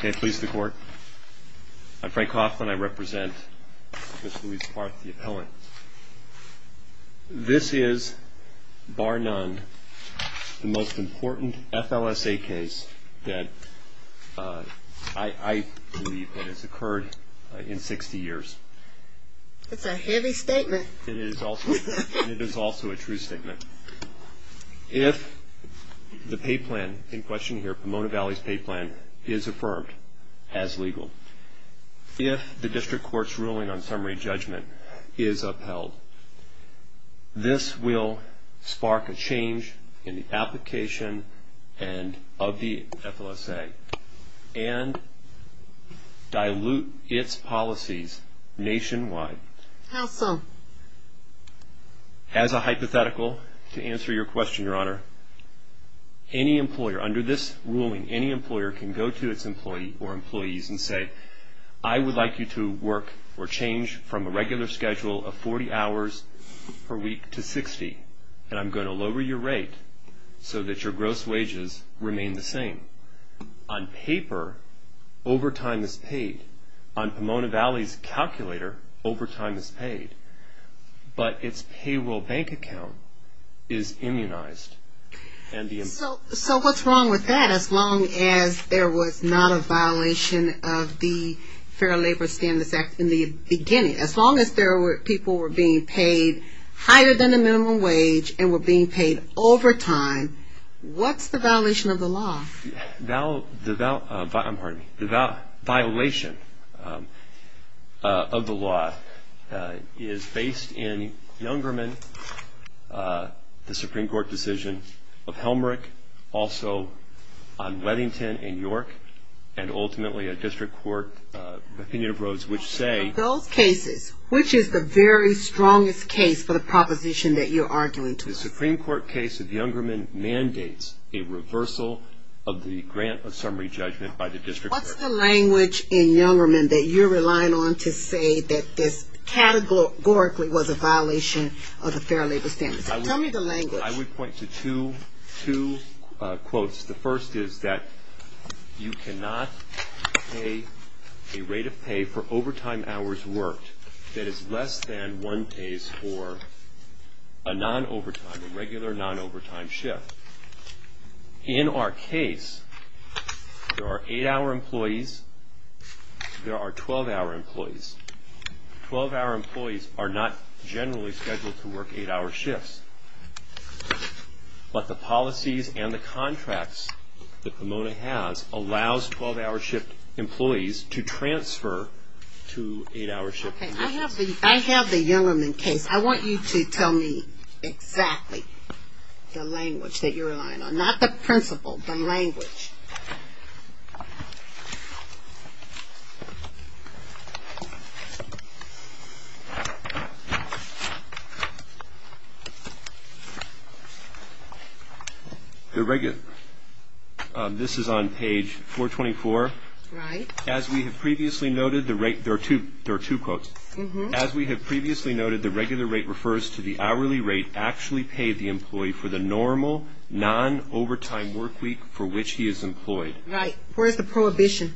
Can I please the court? I'm Frank Coughlin. I represent Ms. Louise Parth, the appellant. This is, bar none, the most important FLSA case that I believe has occurred in 60 years. That's a heavy statement. It is also a true statement. If the pay plan in question here, Pomona Valley's pay plan, is affirmed as legal, if the district court's ruling on summary judgment is upheld, this will spark a change in the application of the FLSA and dilute its policies nationwide. How so? As a hypothetical, to answer your question, Your Honor, any employer, under this ruling, any employer can go to its employee or employees and say, I would like you to work or change from a regular schedule of 40 hours per week to 60, and I'm going to lower your rate so that your gross wages remain the same. On paper, overtime is paid. On Pomona Valley's calculator, overtime is paid. But its payroll bank account is immunized. So what's wrong with that? As long as there was not a violation of the Fair Labor Standards Act in the beginning, as long as people were being paid higher than the minimum wage and were being paid overtime, what's the violation of the law? The violation of the law is based in Youngerman, the Supreme Court decision of Helmerich, also on Weddington and York, and ultimately a district court opinion of Rhodes, which say Of those cases, which is the very strongest case for the proposition that you're arguing towards? The Supreme Court case of Youngerman mandates a reversal of the grant of summary judgment by the district court. What's the language in Youngerman that you're relying on to say that this categorically was a violation of the Fair Labor Standards? Tell me the language. I would point to two quotes. The first is that you cannot pay a rate of pay for overtime hours worked that is less than one case for a non-overtime, a regular non-overtime shift. In our case, there are eight-hour employees. There are 12-hour employees. Twelve-hour employees are not generally scheduled to work eight-hour shifts. But the policies and the contracts that Pomona has allows 12-hour shift employees to transfer to eight-hour shift employees. I have the Youngerman case. I want you to tell me exactly the language that you're relying on, not the principle, the language. The regular, this is on page 424. Right. As we have previously noted, the rate, there are two quotes. As we have previously noted, the regular rate refers to the hourly rate actually paid the employee for the normal, non-overtime work week for which he is employed. Right. Where's the prohibition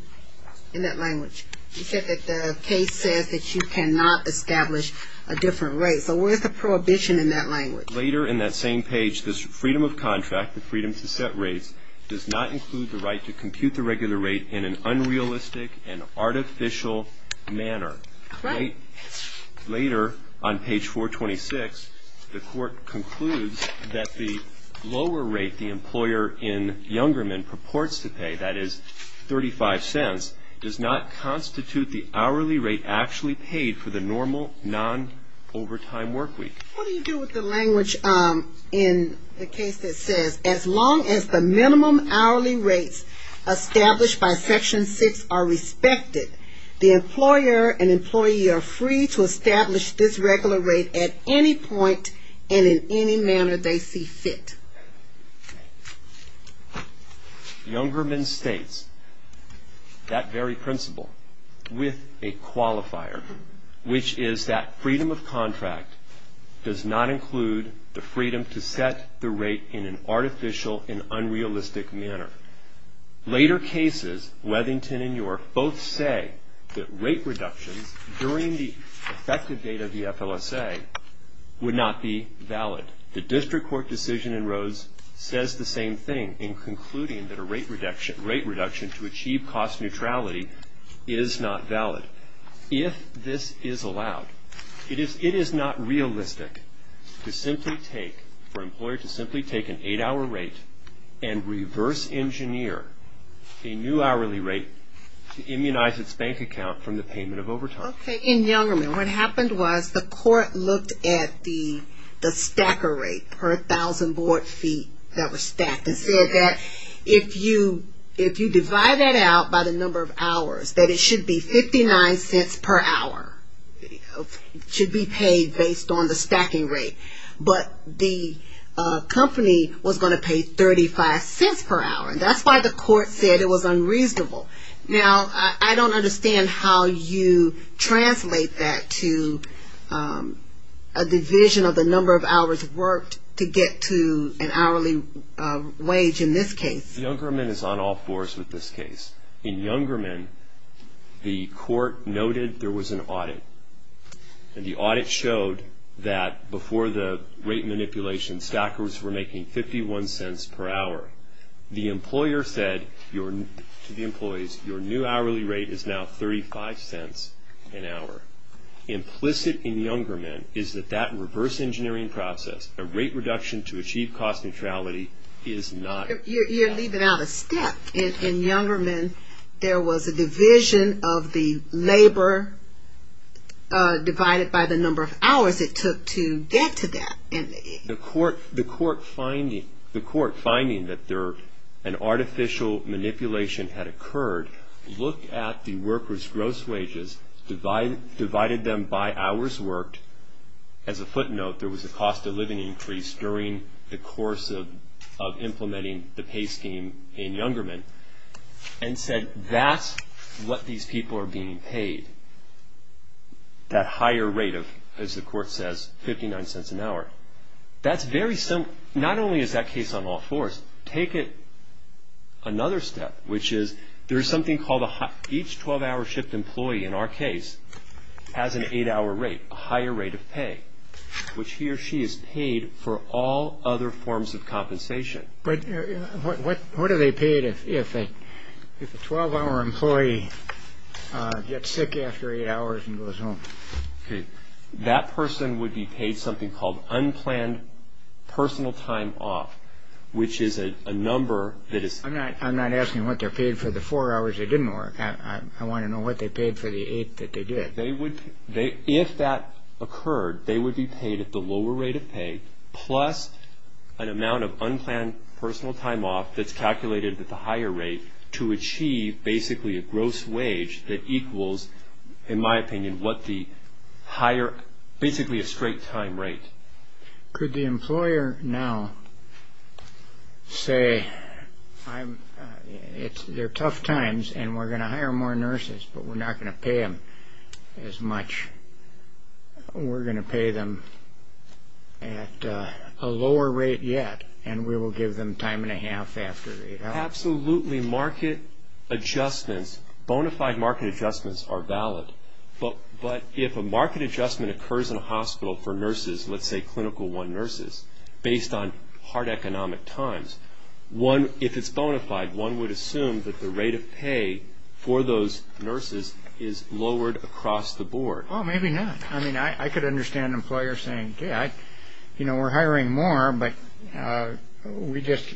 in that language? You said that the case says that you cannot establish a different rate. So where's the prohibition in that language? Later in that same page, this freedom of contract, the freedom to set rates, does not include the right to compute the regular rate in an unrealistic and artificial manner. Correct. Later on page 426, the Court concludes that the lower rate the employer in Youngerman purports to pay, that is 35 cents, does not constitute the hourly rate actually paid for the normal, non-overtime work week. What do you do with the language in the case that says, as long as the minimum hourly rates established by Section 6 are respected, the employer and employee are free to establish this regular rate at any point and in any manner they see fit? Youngerman states that very principle with a qualifier, which is that freedom of contract does not include the freedom to set the rate in an artificial and unrealistic manner. Later cases, Weathington and York both say that rate reductions during the effective date of the FLSA would not be valid. The District Court decision in Rhodes says the same thing in concluding that a rate reduction to achieve cost neutrality is not valid. If this is allowed, it is not realistic for an employer to simply take an 8-hour rate and reverse engineer a new hourly rate to immunize its bank account from the payment of overtime. Okay, in Youngerman, what happened was the court looked at the stacker rate per 1,000 board feet that was stacked and said that if you divide that out by the number of hours, that it should be 59 cents per hour should be paid based on the stacking rate, but the company was going to pay 35 cents per hour. That's why the court said it was unreasonable. Now, I don't understand how you translate that to a division of the number of hours worked to get to an hourly wage in this case. Youngerman is on all fours with this case. In Youngerman, the court noted there was an audit, and the audit showed that before the rate manipulation, stackers were making 51 cents per hour. The employer said to the employees, your new hourly rate is now 35 cents an hour. Implicit in Youngerman is that that reverse engineering process, a rate reduction to achieve cost neutrality, is not valid. You're leaving out a step. In Youngerman, there was a division of the labor divided by the number of hours it took to get to that. The court finding that an artificial manipulation had occurred, looked at the workers' gross wages, divided them by hours worked. As a footnote, there was a cost of living increase during the course of implementing the pay scheme in Youngerman, and said that's what these people are being paid, that higher rate of, as the court says, 59 cents an hour. That's very simple. Not only is that case on all fours. Take it another step, which is there is something called each 12-hour shift employee in our case has an eight-hour rate, a higher rate of pay, which he or she is paid for all other forms of compensation. What are they paid if a 12-hour employee gets sick after eight hours and goes home? That person would be paid something called unplanned personal time off, which is a number that is- I'm not asking what they're paid for the four hours they didn't work. I want to know what they paid for the eight that they did. If that occurred, they would be paid at the lower rate of pay plus an amount of unplanned personal time off that's calculated at the higher rate to achieve basically a gross wage that equals, in my opinion, what the higher-basically a straight time rate. Could the employer now say, they're tough times, and we're going to hire more nurses, but we're not going to pay them as much. We're going to pay them at a lower rate yet, and we will give them time and a half after eight hours. Absolutely. Market adjustments, bona fide market adjustments are valid. But if a market adjustment occurs in a hospital for nurses, let's say clinical one nurses, based on hard economic times, if it's bona fide, one would assume that the rate of pay for those nurses is lowered across the board. Well, maybe not. I mean, I could understand an employer saying, okay, we're hiring more, but we just-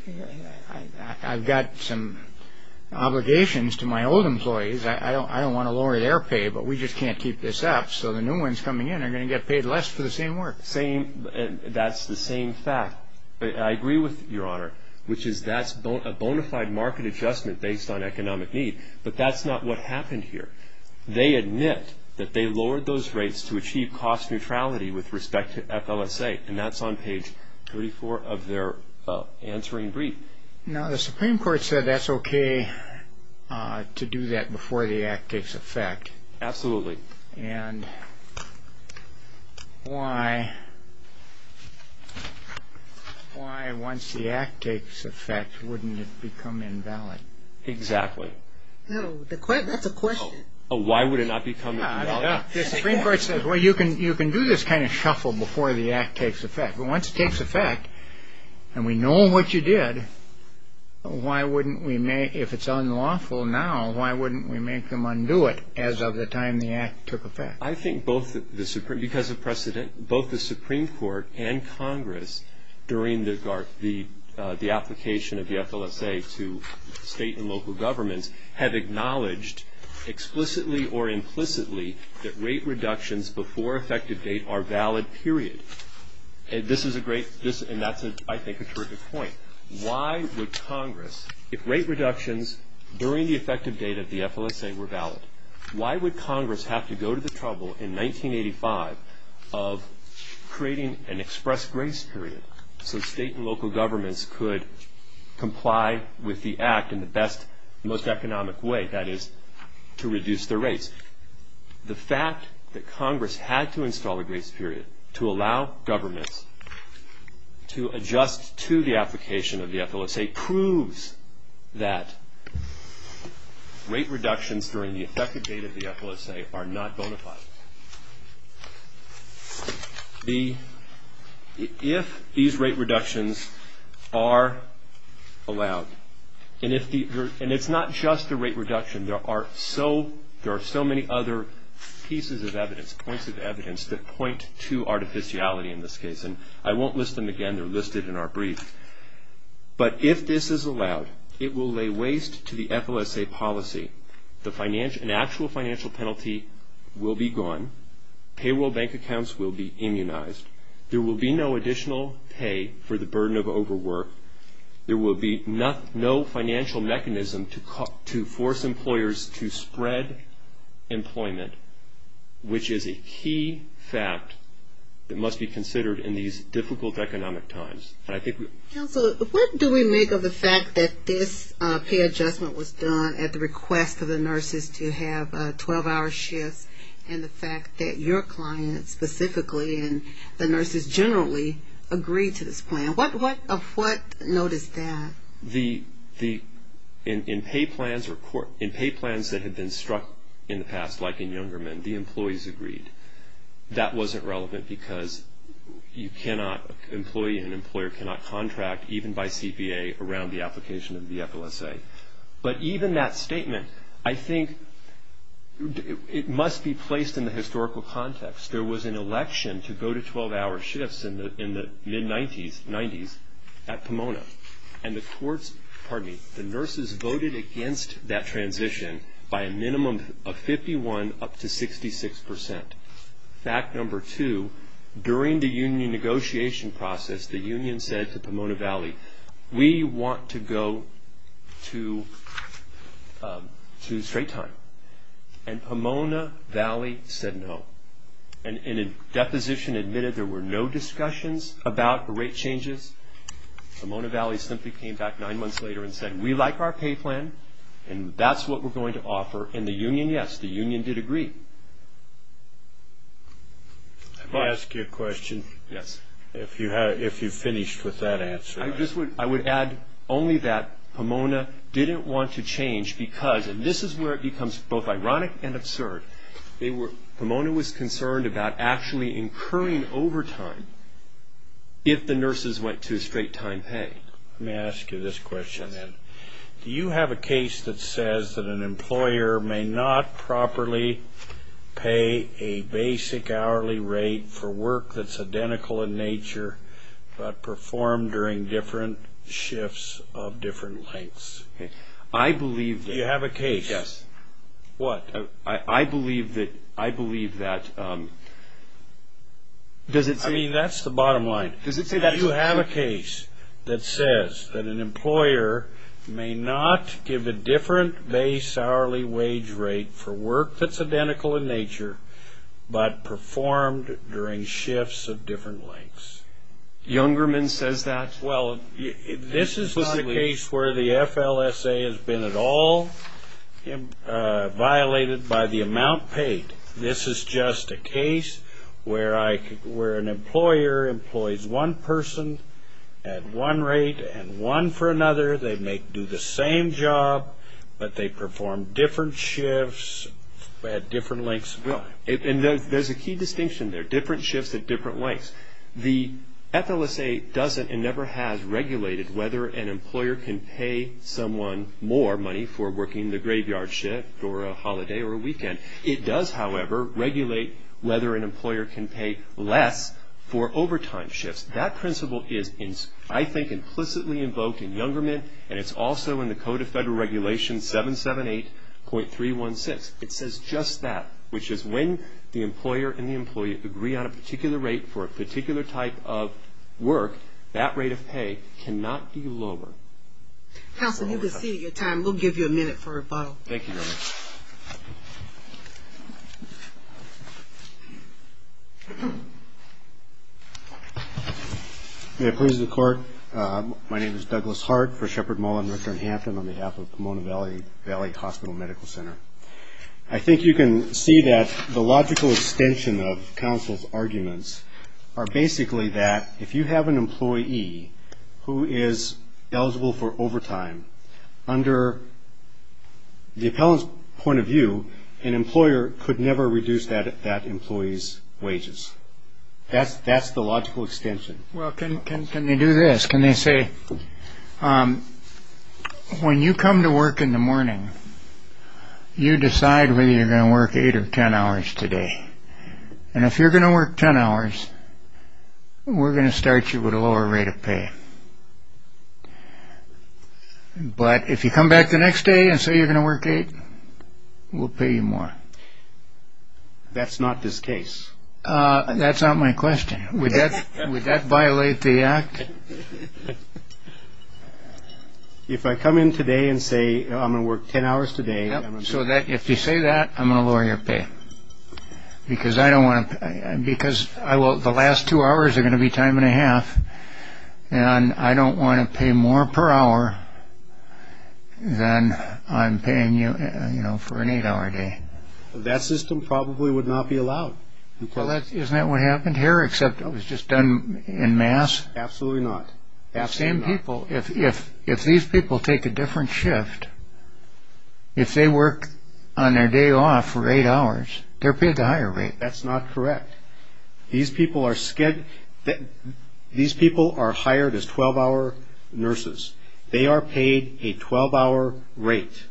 I've got some obligations to my old employees. I don't want to lower their pay, but we just can't keep this up, so the new ones coming in are going to get paid less for the same work. That's the same fact. I agree with Your Honor, which is that's a bona fide market adjustment based on economic need, but that's not what happened here. They admit that they lowered those rates to achieve cost neutrality with respect to FLSA, and that's on page 34 of their answering brief. Now, the Supreme Court said that's okay to do that before the act takes effect. Absolutely. And why once the act takes effect wouldn't it become invalid? Exactly. That's a question. Why would it not become invalid? The Supreme Court says, well, you can do this kind of shuffle before the act takes effect, but once it takes effect and we know what you did, if it's unlawful now, why wouldn't we make them undo it as of the time the act took effect? I think because of precedent, both the Supreme Court and Congress, during the application of the FLSA to state and local governments, have acknowledged explicitly or implicitly that rate reductions before effective date are valid, period. This is a great, and that's I think a terrific point. Why would Congress, if rate reductions during the effective date of the FLSA were valid, why would Congress have to go to the trouble in 1985 of creating an express grace period so state and local governments could comply with the act in the best, most economic way, that is to reduce their rates? The fact that Congress had to install a grace period to allow governments to adjust to the application of the FLSA proves that rate reductions during the effective date of the FLSA are not bona fide. If these rate reductions are allowed, and it's not just a rate reduction, there are so many other pieces of evidence, points of evidence that point to artificiality in this case, and I won't list them again. They're listed in our brief. But if this is allowed, it will lay waste to the FLSA policy. An actual financial penalty will be gone. Payroll bank accounts will be immunized. There will be no additional pay for the burden of overwork. There will be no financial mechanism to force employers to spread employment, which is a key fact that must be considered in these difficult economic times. Council, what do we make of the fact that this pay adjustment was done at the request of the nurses to have 12-hour shifts and the fact that your clients specifically and the nurses generally agreed to this plan? What of what noticed that? In pay plans that had been struck in the past, like in Youngermen, the employees agreed. That wasn't relevant because you cannot, an employee and an employer cannot contract, even by CPA, around the application of the FLSA. But even that statement, I think it must be placed in the historical context. There was an election to go to 12-hour shifts in the mid-90s at Pomona, and the nurses voted against that transition by a minimum of 51% up to 66%. Fact number two, during the union negotiation process, the union said to Pomona Valley, we want to go to straight time. And Pomona Valley said no. And a deposition admitted there were no discussions about the rate changes. Pomona Valley simply came back nine months later and said, we like our pay plan, and that's what we're going to offer. And the union, yes, the union did agree. May I ask you a question? Yes. If you've finished with that answer. I would add only that Pomona didn't want to change because, and this is where it becomes both ironic and absurd, Pomona was concerned about actually incurring overtime if the nurses went to straight time pay. Let me ask you this question then. Do you have a case that says that an employer may not properly pay a basic hourly rate for work that's identical in nature but performed during different shifts of different lengths? I believe that. Do you have a case? Yes. What? I believe that. I mean, that's the bottom line. Do you have a case that says that an employer may not give a different base hourly wage rate for work that's identical in nature but performed during shifts of different lengths? Youngerman says that. Well, this is not a case where the FLSA has been at all violated by the amount paid. This is just a case where an employer employs one person at one rate and one for another. They may do the same job, but they perform different shifts at different lengths of time. There's a key distinction there, different shifts at different lengths. The FLSA doesn't and never has regulated whether an employer can pay someone more money for working the graveyard shift or a holiday or a weekend. It does, however, regulate whether an employer can pay less for overtime shifts. That principle is, I think, implicitly invoked in Youngerman, and it's also in the Code of Federal Regulations 778.316. It says just that, which is when the employer and the employee agree on a particular rate for a particular type of work, that rate of pay cannot be lower. Counselor, you've exceeded your time. We'll give you a minute for a vote. Thank you very much. May it please the Court, my name is Douglas Hart for Sheppard Mall in Northern Hampton on behalf of Pomona Valley Hospital Medical Center. I think you can see that the logical extension of counsel's arguments are basically that if you have an employee who is eligible for overtime, under the appellant's point of view, an employer could never reduce that employee's wages. That's the logical extension. Well, can they do this? Can they say, when you come to work in the morning, you decide whether you're going to work eight or ten hours today. And if you're going to work ten hours, we're going to start you with a lower rate of pay. But if you come back the next day and say you're going to work eight, we'll pay you more. That's not this case. That's not my question. Would that violate the Act? If I come in today and say I'm going to work ten hours today. So if you say that, I'm going to lower your pay. Because the last two hours are going to be time and a half, and I don't want to pay more per hour than I'm paying you for an eight-hour day. That system probably would not be allowed. Isn't that what happened here, except it was just done en masse? Absolutely not. If these people take a different shift, if they work on their day off for eight hours, they're paid a higher rate. That's not correct. These people are hired as 12-hour nurses. They are paid a 12-hour rate.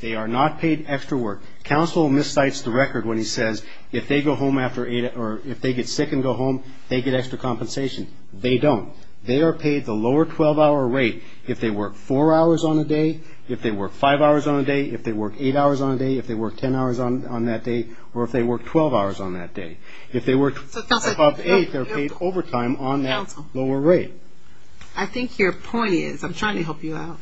They are not paid extra work. Counsel miscites the record when he says if they get sick and go home, they get extra compensation. They don't. They are paid the lower 12-hour rate if they work four hours on a day, if they work five hours on a day, if they work eight hours on a day, if they work ten hours on that day, or if they work 12 hours on that day. If they work above eight, they're paid overtime on that lower rate. I think your point is, I'm trying to help you out,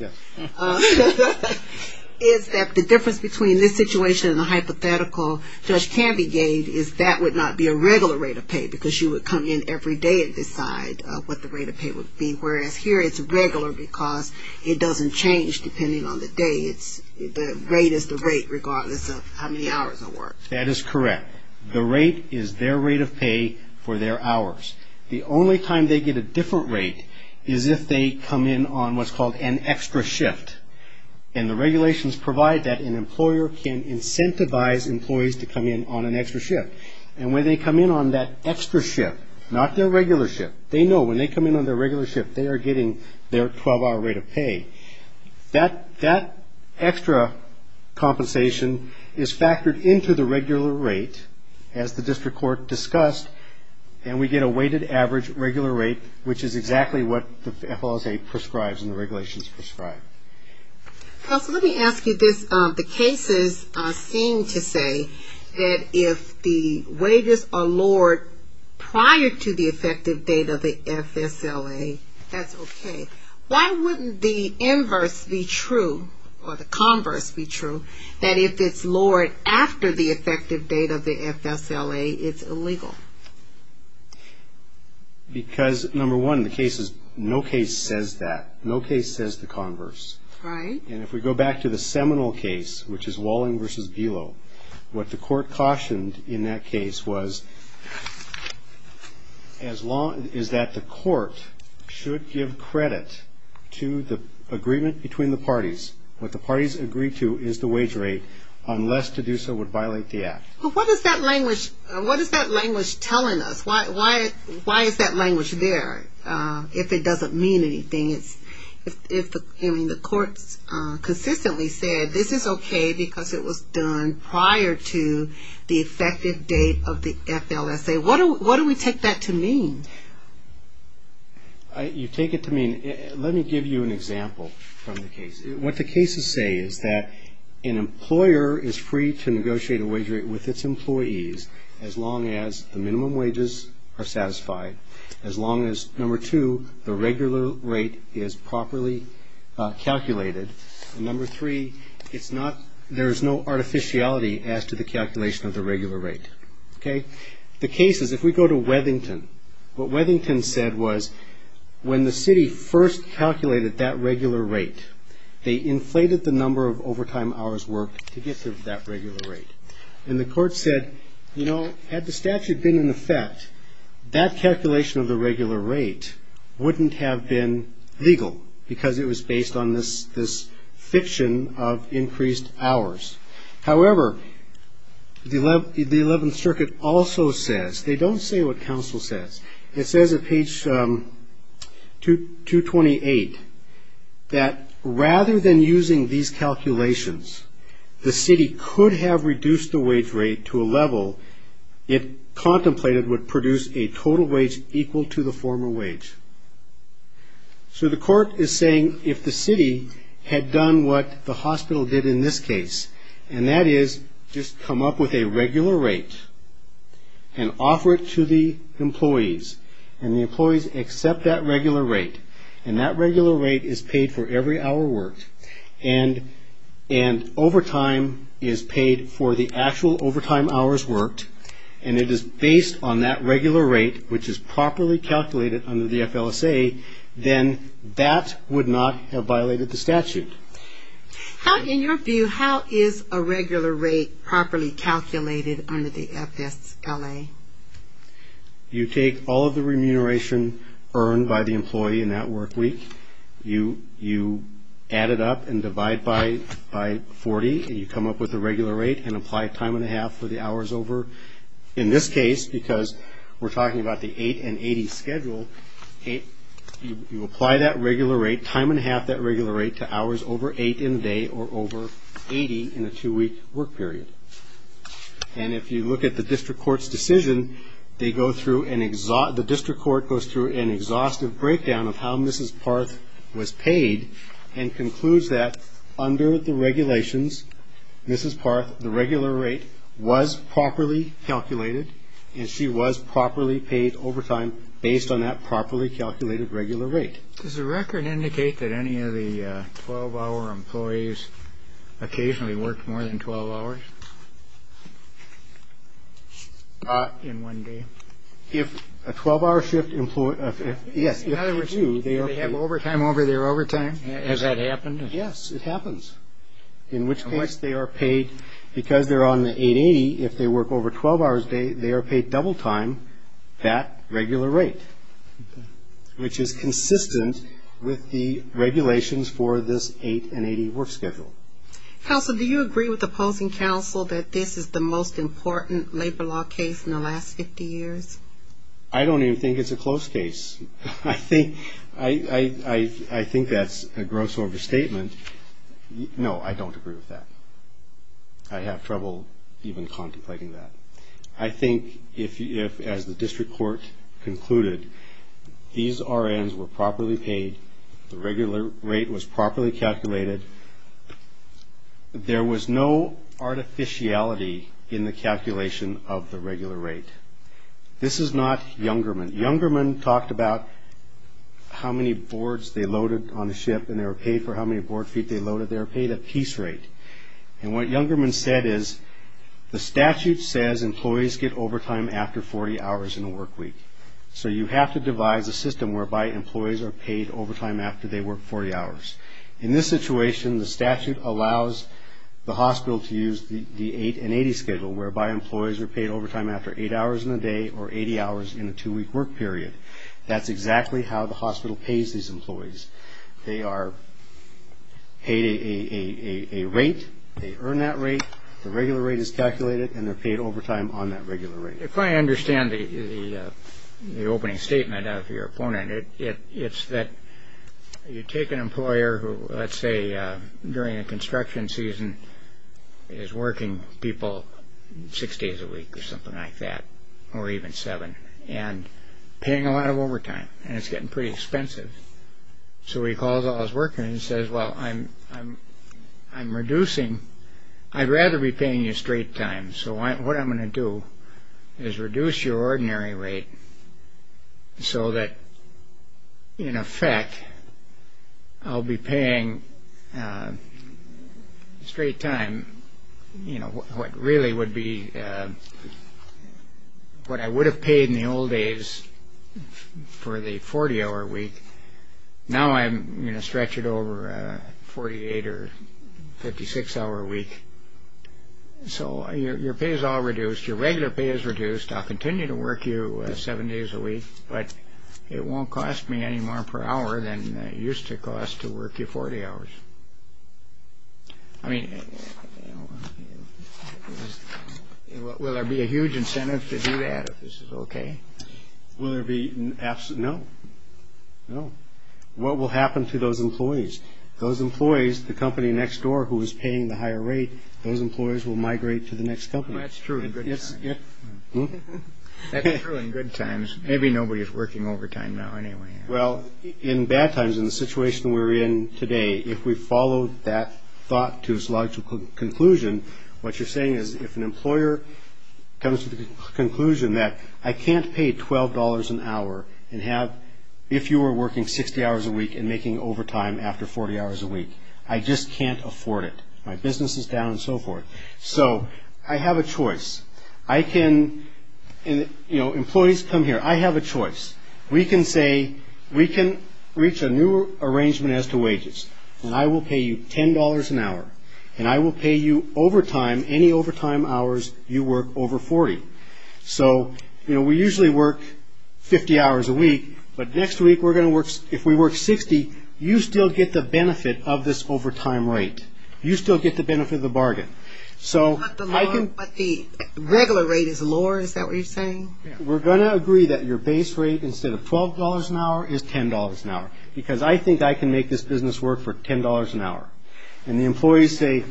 is that the difference between this situation and the hypothetical Judge Canby gave is that would not be a regular rate of pay because you would come in every day and decide what the rate of pay would be, whereas here it's regular because it doesn't change depending on the day. The rate is the rate regardless of how many hours of work. That is correct. The rate is their rate of pay for their hours. The only time they get a different rate is if they come in on what's called an extra shift. And the regulations provide that an employer can incentivize employees to come in on an extra shift. And when they come in on that extra shift, not their regular shift, they know when they come in on their regular shift they are getting their 12-hour rate of pay. That extra compensation is factored into the regular rate, as the district court discussed, and we get a weighted average regular rate, which is exactly what the FLSA prescribes and the regulations prescribe. Let me ask you this. The cases seem to say that if the wages are lowered prior to the effective date of the FSLA, that's okay. Why wouldn't the inverse be true, or the converse be true, that if it's lowered after the effective date of the FSLA, it's illegal? Because, number one, in the cases, no case says that. Right. And if we go back to the Seminole case, which is Walling v. Belo, what the court cautioned in that case was that the court should give credit to the agreement between the parties. What the parties agree to is the wage rate, unless to do so would violate the act. What is that language telling us? Why is that language there if it doesn't mean anything? I mean, the courts consistently said this is okay because it was done prior to the effective date of the FLSA. What do we take that to mean? You take it to mean – let me give you an example from the case. What the cases say is that an employer is free to negotiate a wage rate with its employees as long as the minimum wages are satisfied, as long as, number two, the regular rate is properly calculated, and number three, it's not – there is no artificiality as to the calculation of the regular rate. Okay. The case is, if we go to Wethington, what Wethington said was when the city first calculated that regular rate, they inflated the number of overtime hours worked to get to that regular rate. And the court said, you know, had the statute been in effect, that calculation of the regular rate wouldn't have been legal because it was based on this fiction of increased hours. However, the Eleventh Circuit also says – they don't say what counsel says. It says at page 228 that rather than using these calculations, the city could have reduced the wage rate to a level it contemplated would produce a total wage equal to the former wage. So the court is saying if the city had done what the hospital did in this case, and that is just come up with a regular rate and offer it to the employees, and the employees accept that regular rate, and that regular rate is paid for every hour worked, and overtime is paid for the actual overtime hours worked, and it is based on that regular rate, which is properly calculated under the FLSA, then that would not have violated the statute. In your view, how is a regular rate properly calculated under the FSLA? You take all of the remuneration earned by the employee in that work week. You add it up and divide by 40. You come up with a regular rate and apply time and a half for the hours over. In this case, because we're talking about the 8 and 80 schedule, you apply that regular rate, time and a half that regular rate to hours over 8 in the day or over 80 in a two-week work period. And if you look at the district court's decision, the district court goes through an exhaustive breakdown of how Mrs. Parth was paid and concludes that under the regulations, Mrs. Parth, the regular rate was properly calculated, and she was properly paid overtime based on that properly calculated regular rate. Does the record indicate that any of the 12-hour employees occasionally worked more than 12 hours? Not in one day. If a 12-hour shift employee – yes, if they do, they are paid. Do they have overtime over their overtime? Has that happened? Yes, it happens, in which case they are paid, because they're on the 880, if they work over 12 hours a day, they are paid double time that regular rate, which is consistent with the regulations for this 8 and 80 work schedule. Counsel, do you agree with opposing counsel that this is the most important labor law case in the last 50 years? I don't even think it's a close case. I think that's a gross overstatement. No, I don't agree with that. I have trouble even contemplating that. I think if, as the district court concluded, these RNs were properly paid, the regular rate was properly calculated, there was no artificiality in the calculation of the regular rate. This is not Youngerman. Youngerman talked about how many boards they loaded on the ship and they were paid for how many board feet they loaded. They were paid a piece rate. And what Youngerman said is the statute says employees get overtime after 40 hours in a work week. So you have to devise a system whereby employees are paid overtime after they work 40 hours. In this situation, the statute allows the hospital to use the 8 and 80 schedule, whereby employees are paid overtime after 8 hours in a day or 80 hours in a 2-week work period. That's exactly how the hospital pays these employees. They are paid a rate, they earn that rate, the regular rate is calculated, and they're paid overtime on that regular rate. If I understand the opening statement of your opponent, it's that you take an employer who, let's say, during the construction season, is working people six days a week or something like that, or even seven, and paying a lot of overtime, and it's getting pretty expensive. So he calls all his workers and says, Well, I'm reducing. I'd rather be paying you straight time. So what I'm going to do is reduce your ordinary rate so that, in effect, I'll be paying straight time what I would have paid in the old days for the 40-hour week. Now I'm going to stretch it over a 48- or 56-hour week. So your pay is all reduced. Your regular pay is reduced. I'll continue to work you seven days a week, but it won't cost me any more per hour than it used to cost to work you 40 hours. I mean, will there be a huge incentive to do that if this is okay? Will there be? No. No. What will happen to those employees? Those employees, the company next door who is paying the higher rate, those employees will migrate to the next company. That's true in good times. That's true in good times. Maybe nobody is working overtime now anyway. Well, in bad times, in the situation we're in today, if we follow that thought to its logical conclusion, what you're saying is if an employer comes to the conclusion that I can't pay $12 an hour if you are working 60 hours a week and making overtime after 40 hours a week. I just can't afford it. My business is down and so forth. So I have a choice. Employees come here. I have a choice. We can say we can reach a new arrangement as to wages, and I will pay you $10 an hour, and I will pay you overtime any overtime hours you work over 40. So, you know, we usually work 50 hours a week, but next week if we work 60, you still get the benefit of this overtime rate. You still get the benefit of the bargain. But the regular rate is lower. Is that what you're saying? We're going to agree that your base rate instead of $12 an hour is $10 an hour because I think I can make this business work for $10 an hour. And the employees say,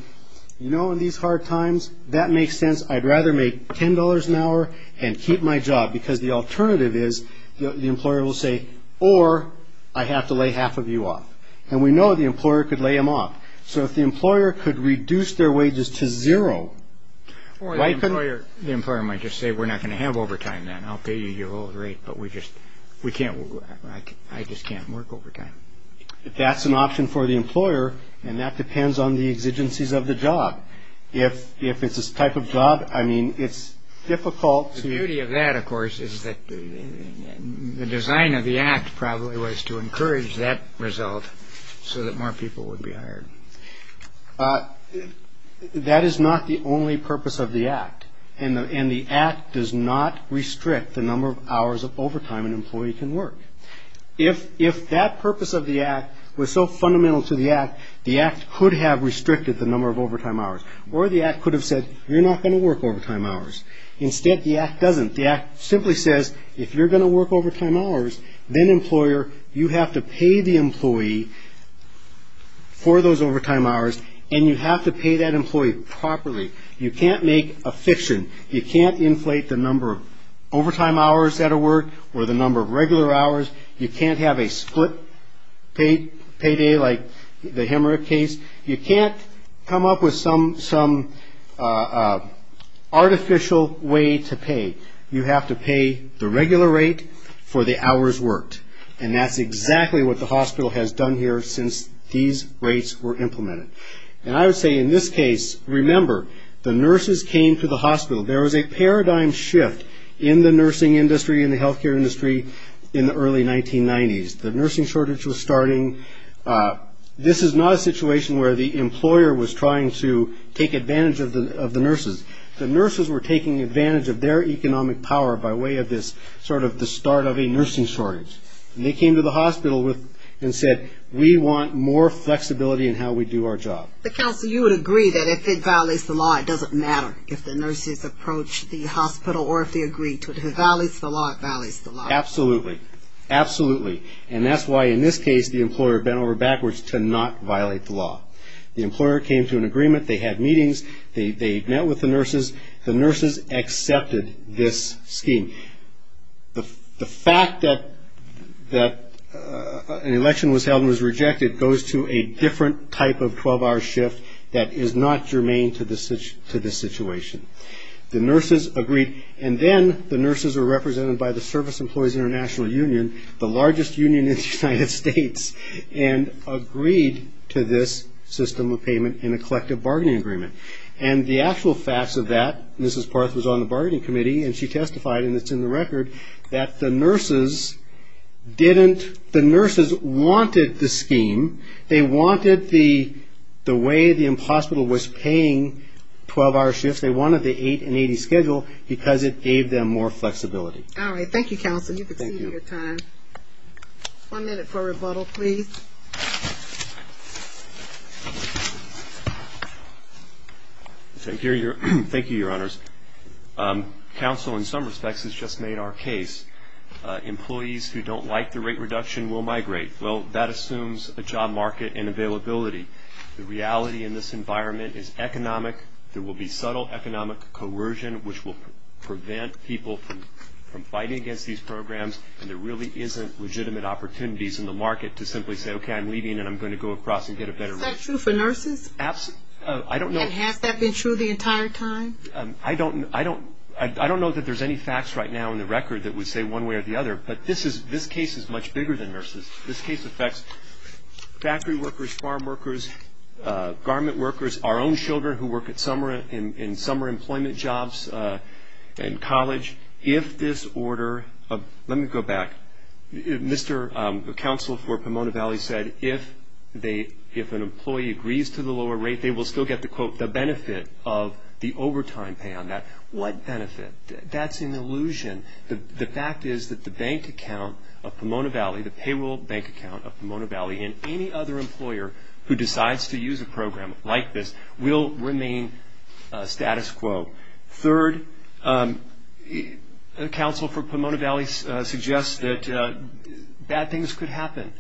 you know, in these hard times, that makes sense. I'd rather make $10 an hour and keep my job because the alternative is the employer will say, or I have to lay half of you off. And we know the employer could lay them off. So if the employer could reduce their wages to zero. Or the employer might just say, we're not going to have overtime then. I'll pay you your old rate, but I just can't work overtime. That's an option for the employer, and that depends on the exigencies of the job. If it's this type of job, I mean, it's difficult. The beauty of that, of course, is that the design of the Act probably was to encourage that result so that more people would be hired. That is not the only purpose of the Act, and the Act does not restrict the number of hours of overtime an employee can work. If that purpose of the Act was so fundamental to the Act, the Act could have restricted the number of overtime hours. Or the Act could have said, you're not going to work overtime hours. Instead, the Act doesn't. The Act simply says, if you're going to work overtime hours, then, employer, you have to pay the employee for those overtime hours, and you have to pay that employee properly. You can't make a fiction. You can't inflate the number of overtime hours at a work or the number of regular hours. You can't have a split payday like the hemorrhage case. You can't come up with some artificial way to pay. You have to pay the regular rate for the hours worked, and that's exactly what the hospital has done here since these rates were implemented. And I would say, in this case, remember, the nurses came to the hospital. There was a paradigm shift in the nursing industry and the health care industry in the early 1990s. The nursing shortage was starting. This is not a situation where the employer was trying to take advantage of the nurses. The nurses were taking advantage of their economic power by way of this sort of the start of a nursing shortage. And they came to the hospital and said, we want more flexibility in how we do our job. The counsel, you would agree that if it violates the law, it doesn't matter if the nurses approach the hospital or if they agree to it. If it violates the law, it violates the law. Absolutely. Absolutely. And that's why, in this case, the employer bent over backwards to not violate the law. The employer came to an agreement. They had meetings. They met with the nurses. The nurses accepted this scheme. The fact that an election was held and was rejected goes to a different type of 12-hour shift that is not germane to this situation. The nurses agreed. And then the nurses were represented by the Service Employees International Union, the largest union in the United States, and agreed to this system of payment in a collective bargaining agreement. And the actual facts of that, Mrs. Parth was on the bargaining committee, and she testified, and it's in the record, that the nurses didn't, the nurses wanted the scheme. They wanted the way the hospital was paying 12-hour shifts. They wanted the 8 and 80 schedule because it gave them more flexibility. All right. Thank you, counsel. You've exceeded your time. Thank you. One minute for rebuttal, please. Thank you, Your Honors. Counsel, in some respects, has just made our case. Employees who don't like the rate reduction will migrate. Well, that assumes a job market and availability. The reality in this environment is economic. There will be subtle economic coercion, which will prevent people from fighting against these programs, and there really isn't legitimate opportunities in the market to simply say, okay, I'm leaving, and I'm going to go across and get a better rate. Is that true for nurses? I don't know. And has that been true the entire time? I don't know that there's any facts right now in the record that would say one way or the other, but this case is much bigger than nurses. This case affects factory workers, farm workers, garment workers, our own children who work in summer employment jobs and college. Let me go back. Mr. Counsel for Pomona Valley said if an employee agrees to the lower rate, they will still get the quote, the benefit of the overtime pay on that. What benefit? That's an illusion. The fact is that the bank account of Pomona Valley, the payroll bank account of Pomona Valley, and any other employer who decides to use a program like this will remain status quo. Third, Counsel for Pomona Valley suggests that bad things could happen.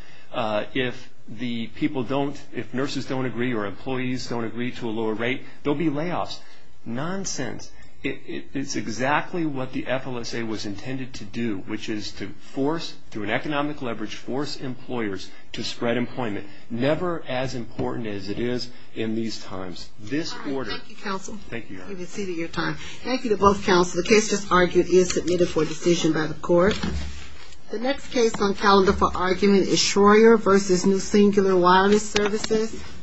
If the people don't, if nurses don't agree or employees don't agree to a lower rate, there will be layoffs. Nonsense. It's exactly what the FLSA was intended to do, which is to force, through an economic leverage, force employers to spread employment, never as important as it is in these times. This order. Thank you, Counsel. Thank you. You've exceeded your time. Thank you to both counsels. The case just argued is submitted for decision by the court. The next case on calendar for argument is Shroyer v. New Singular Wireless Services.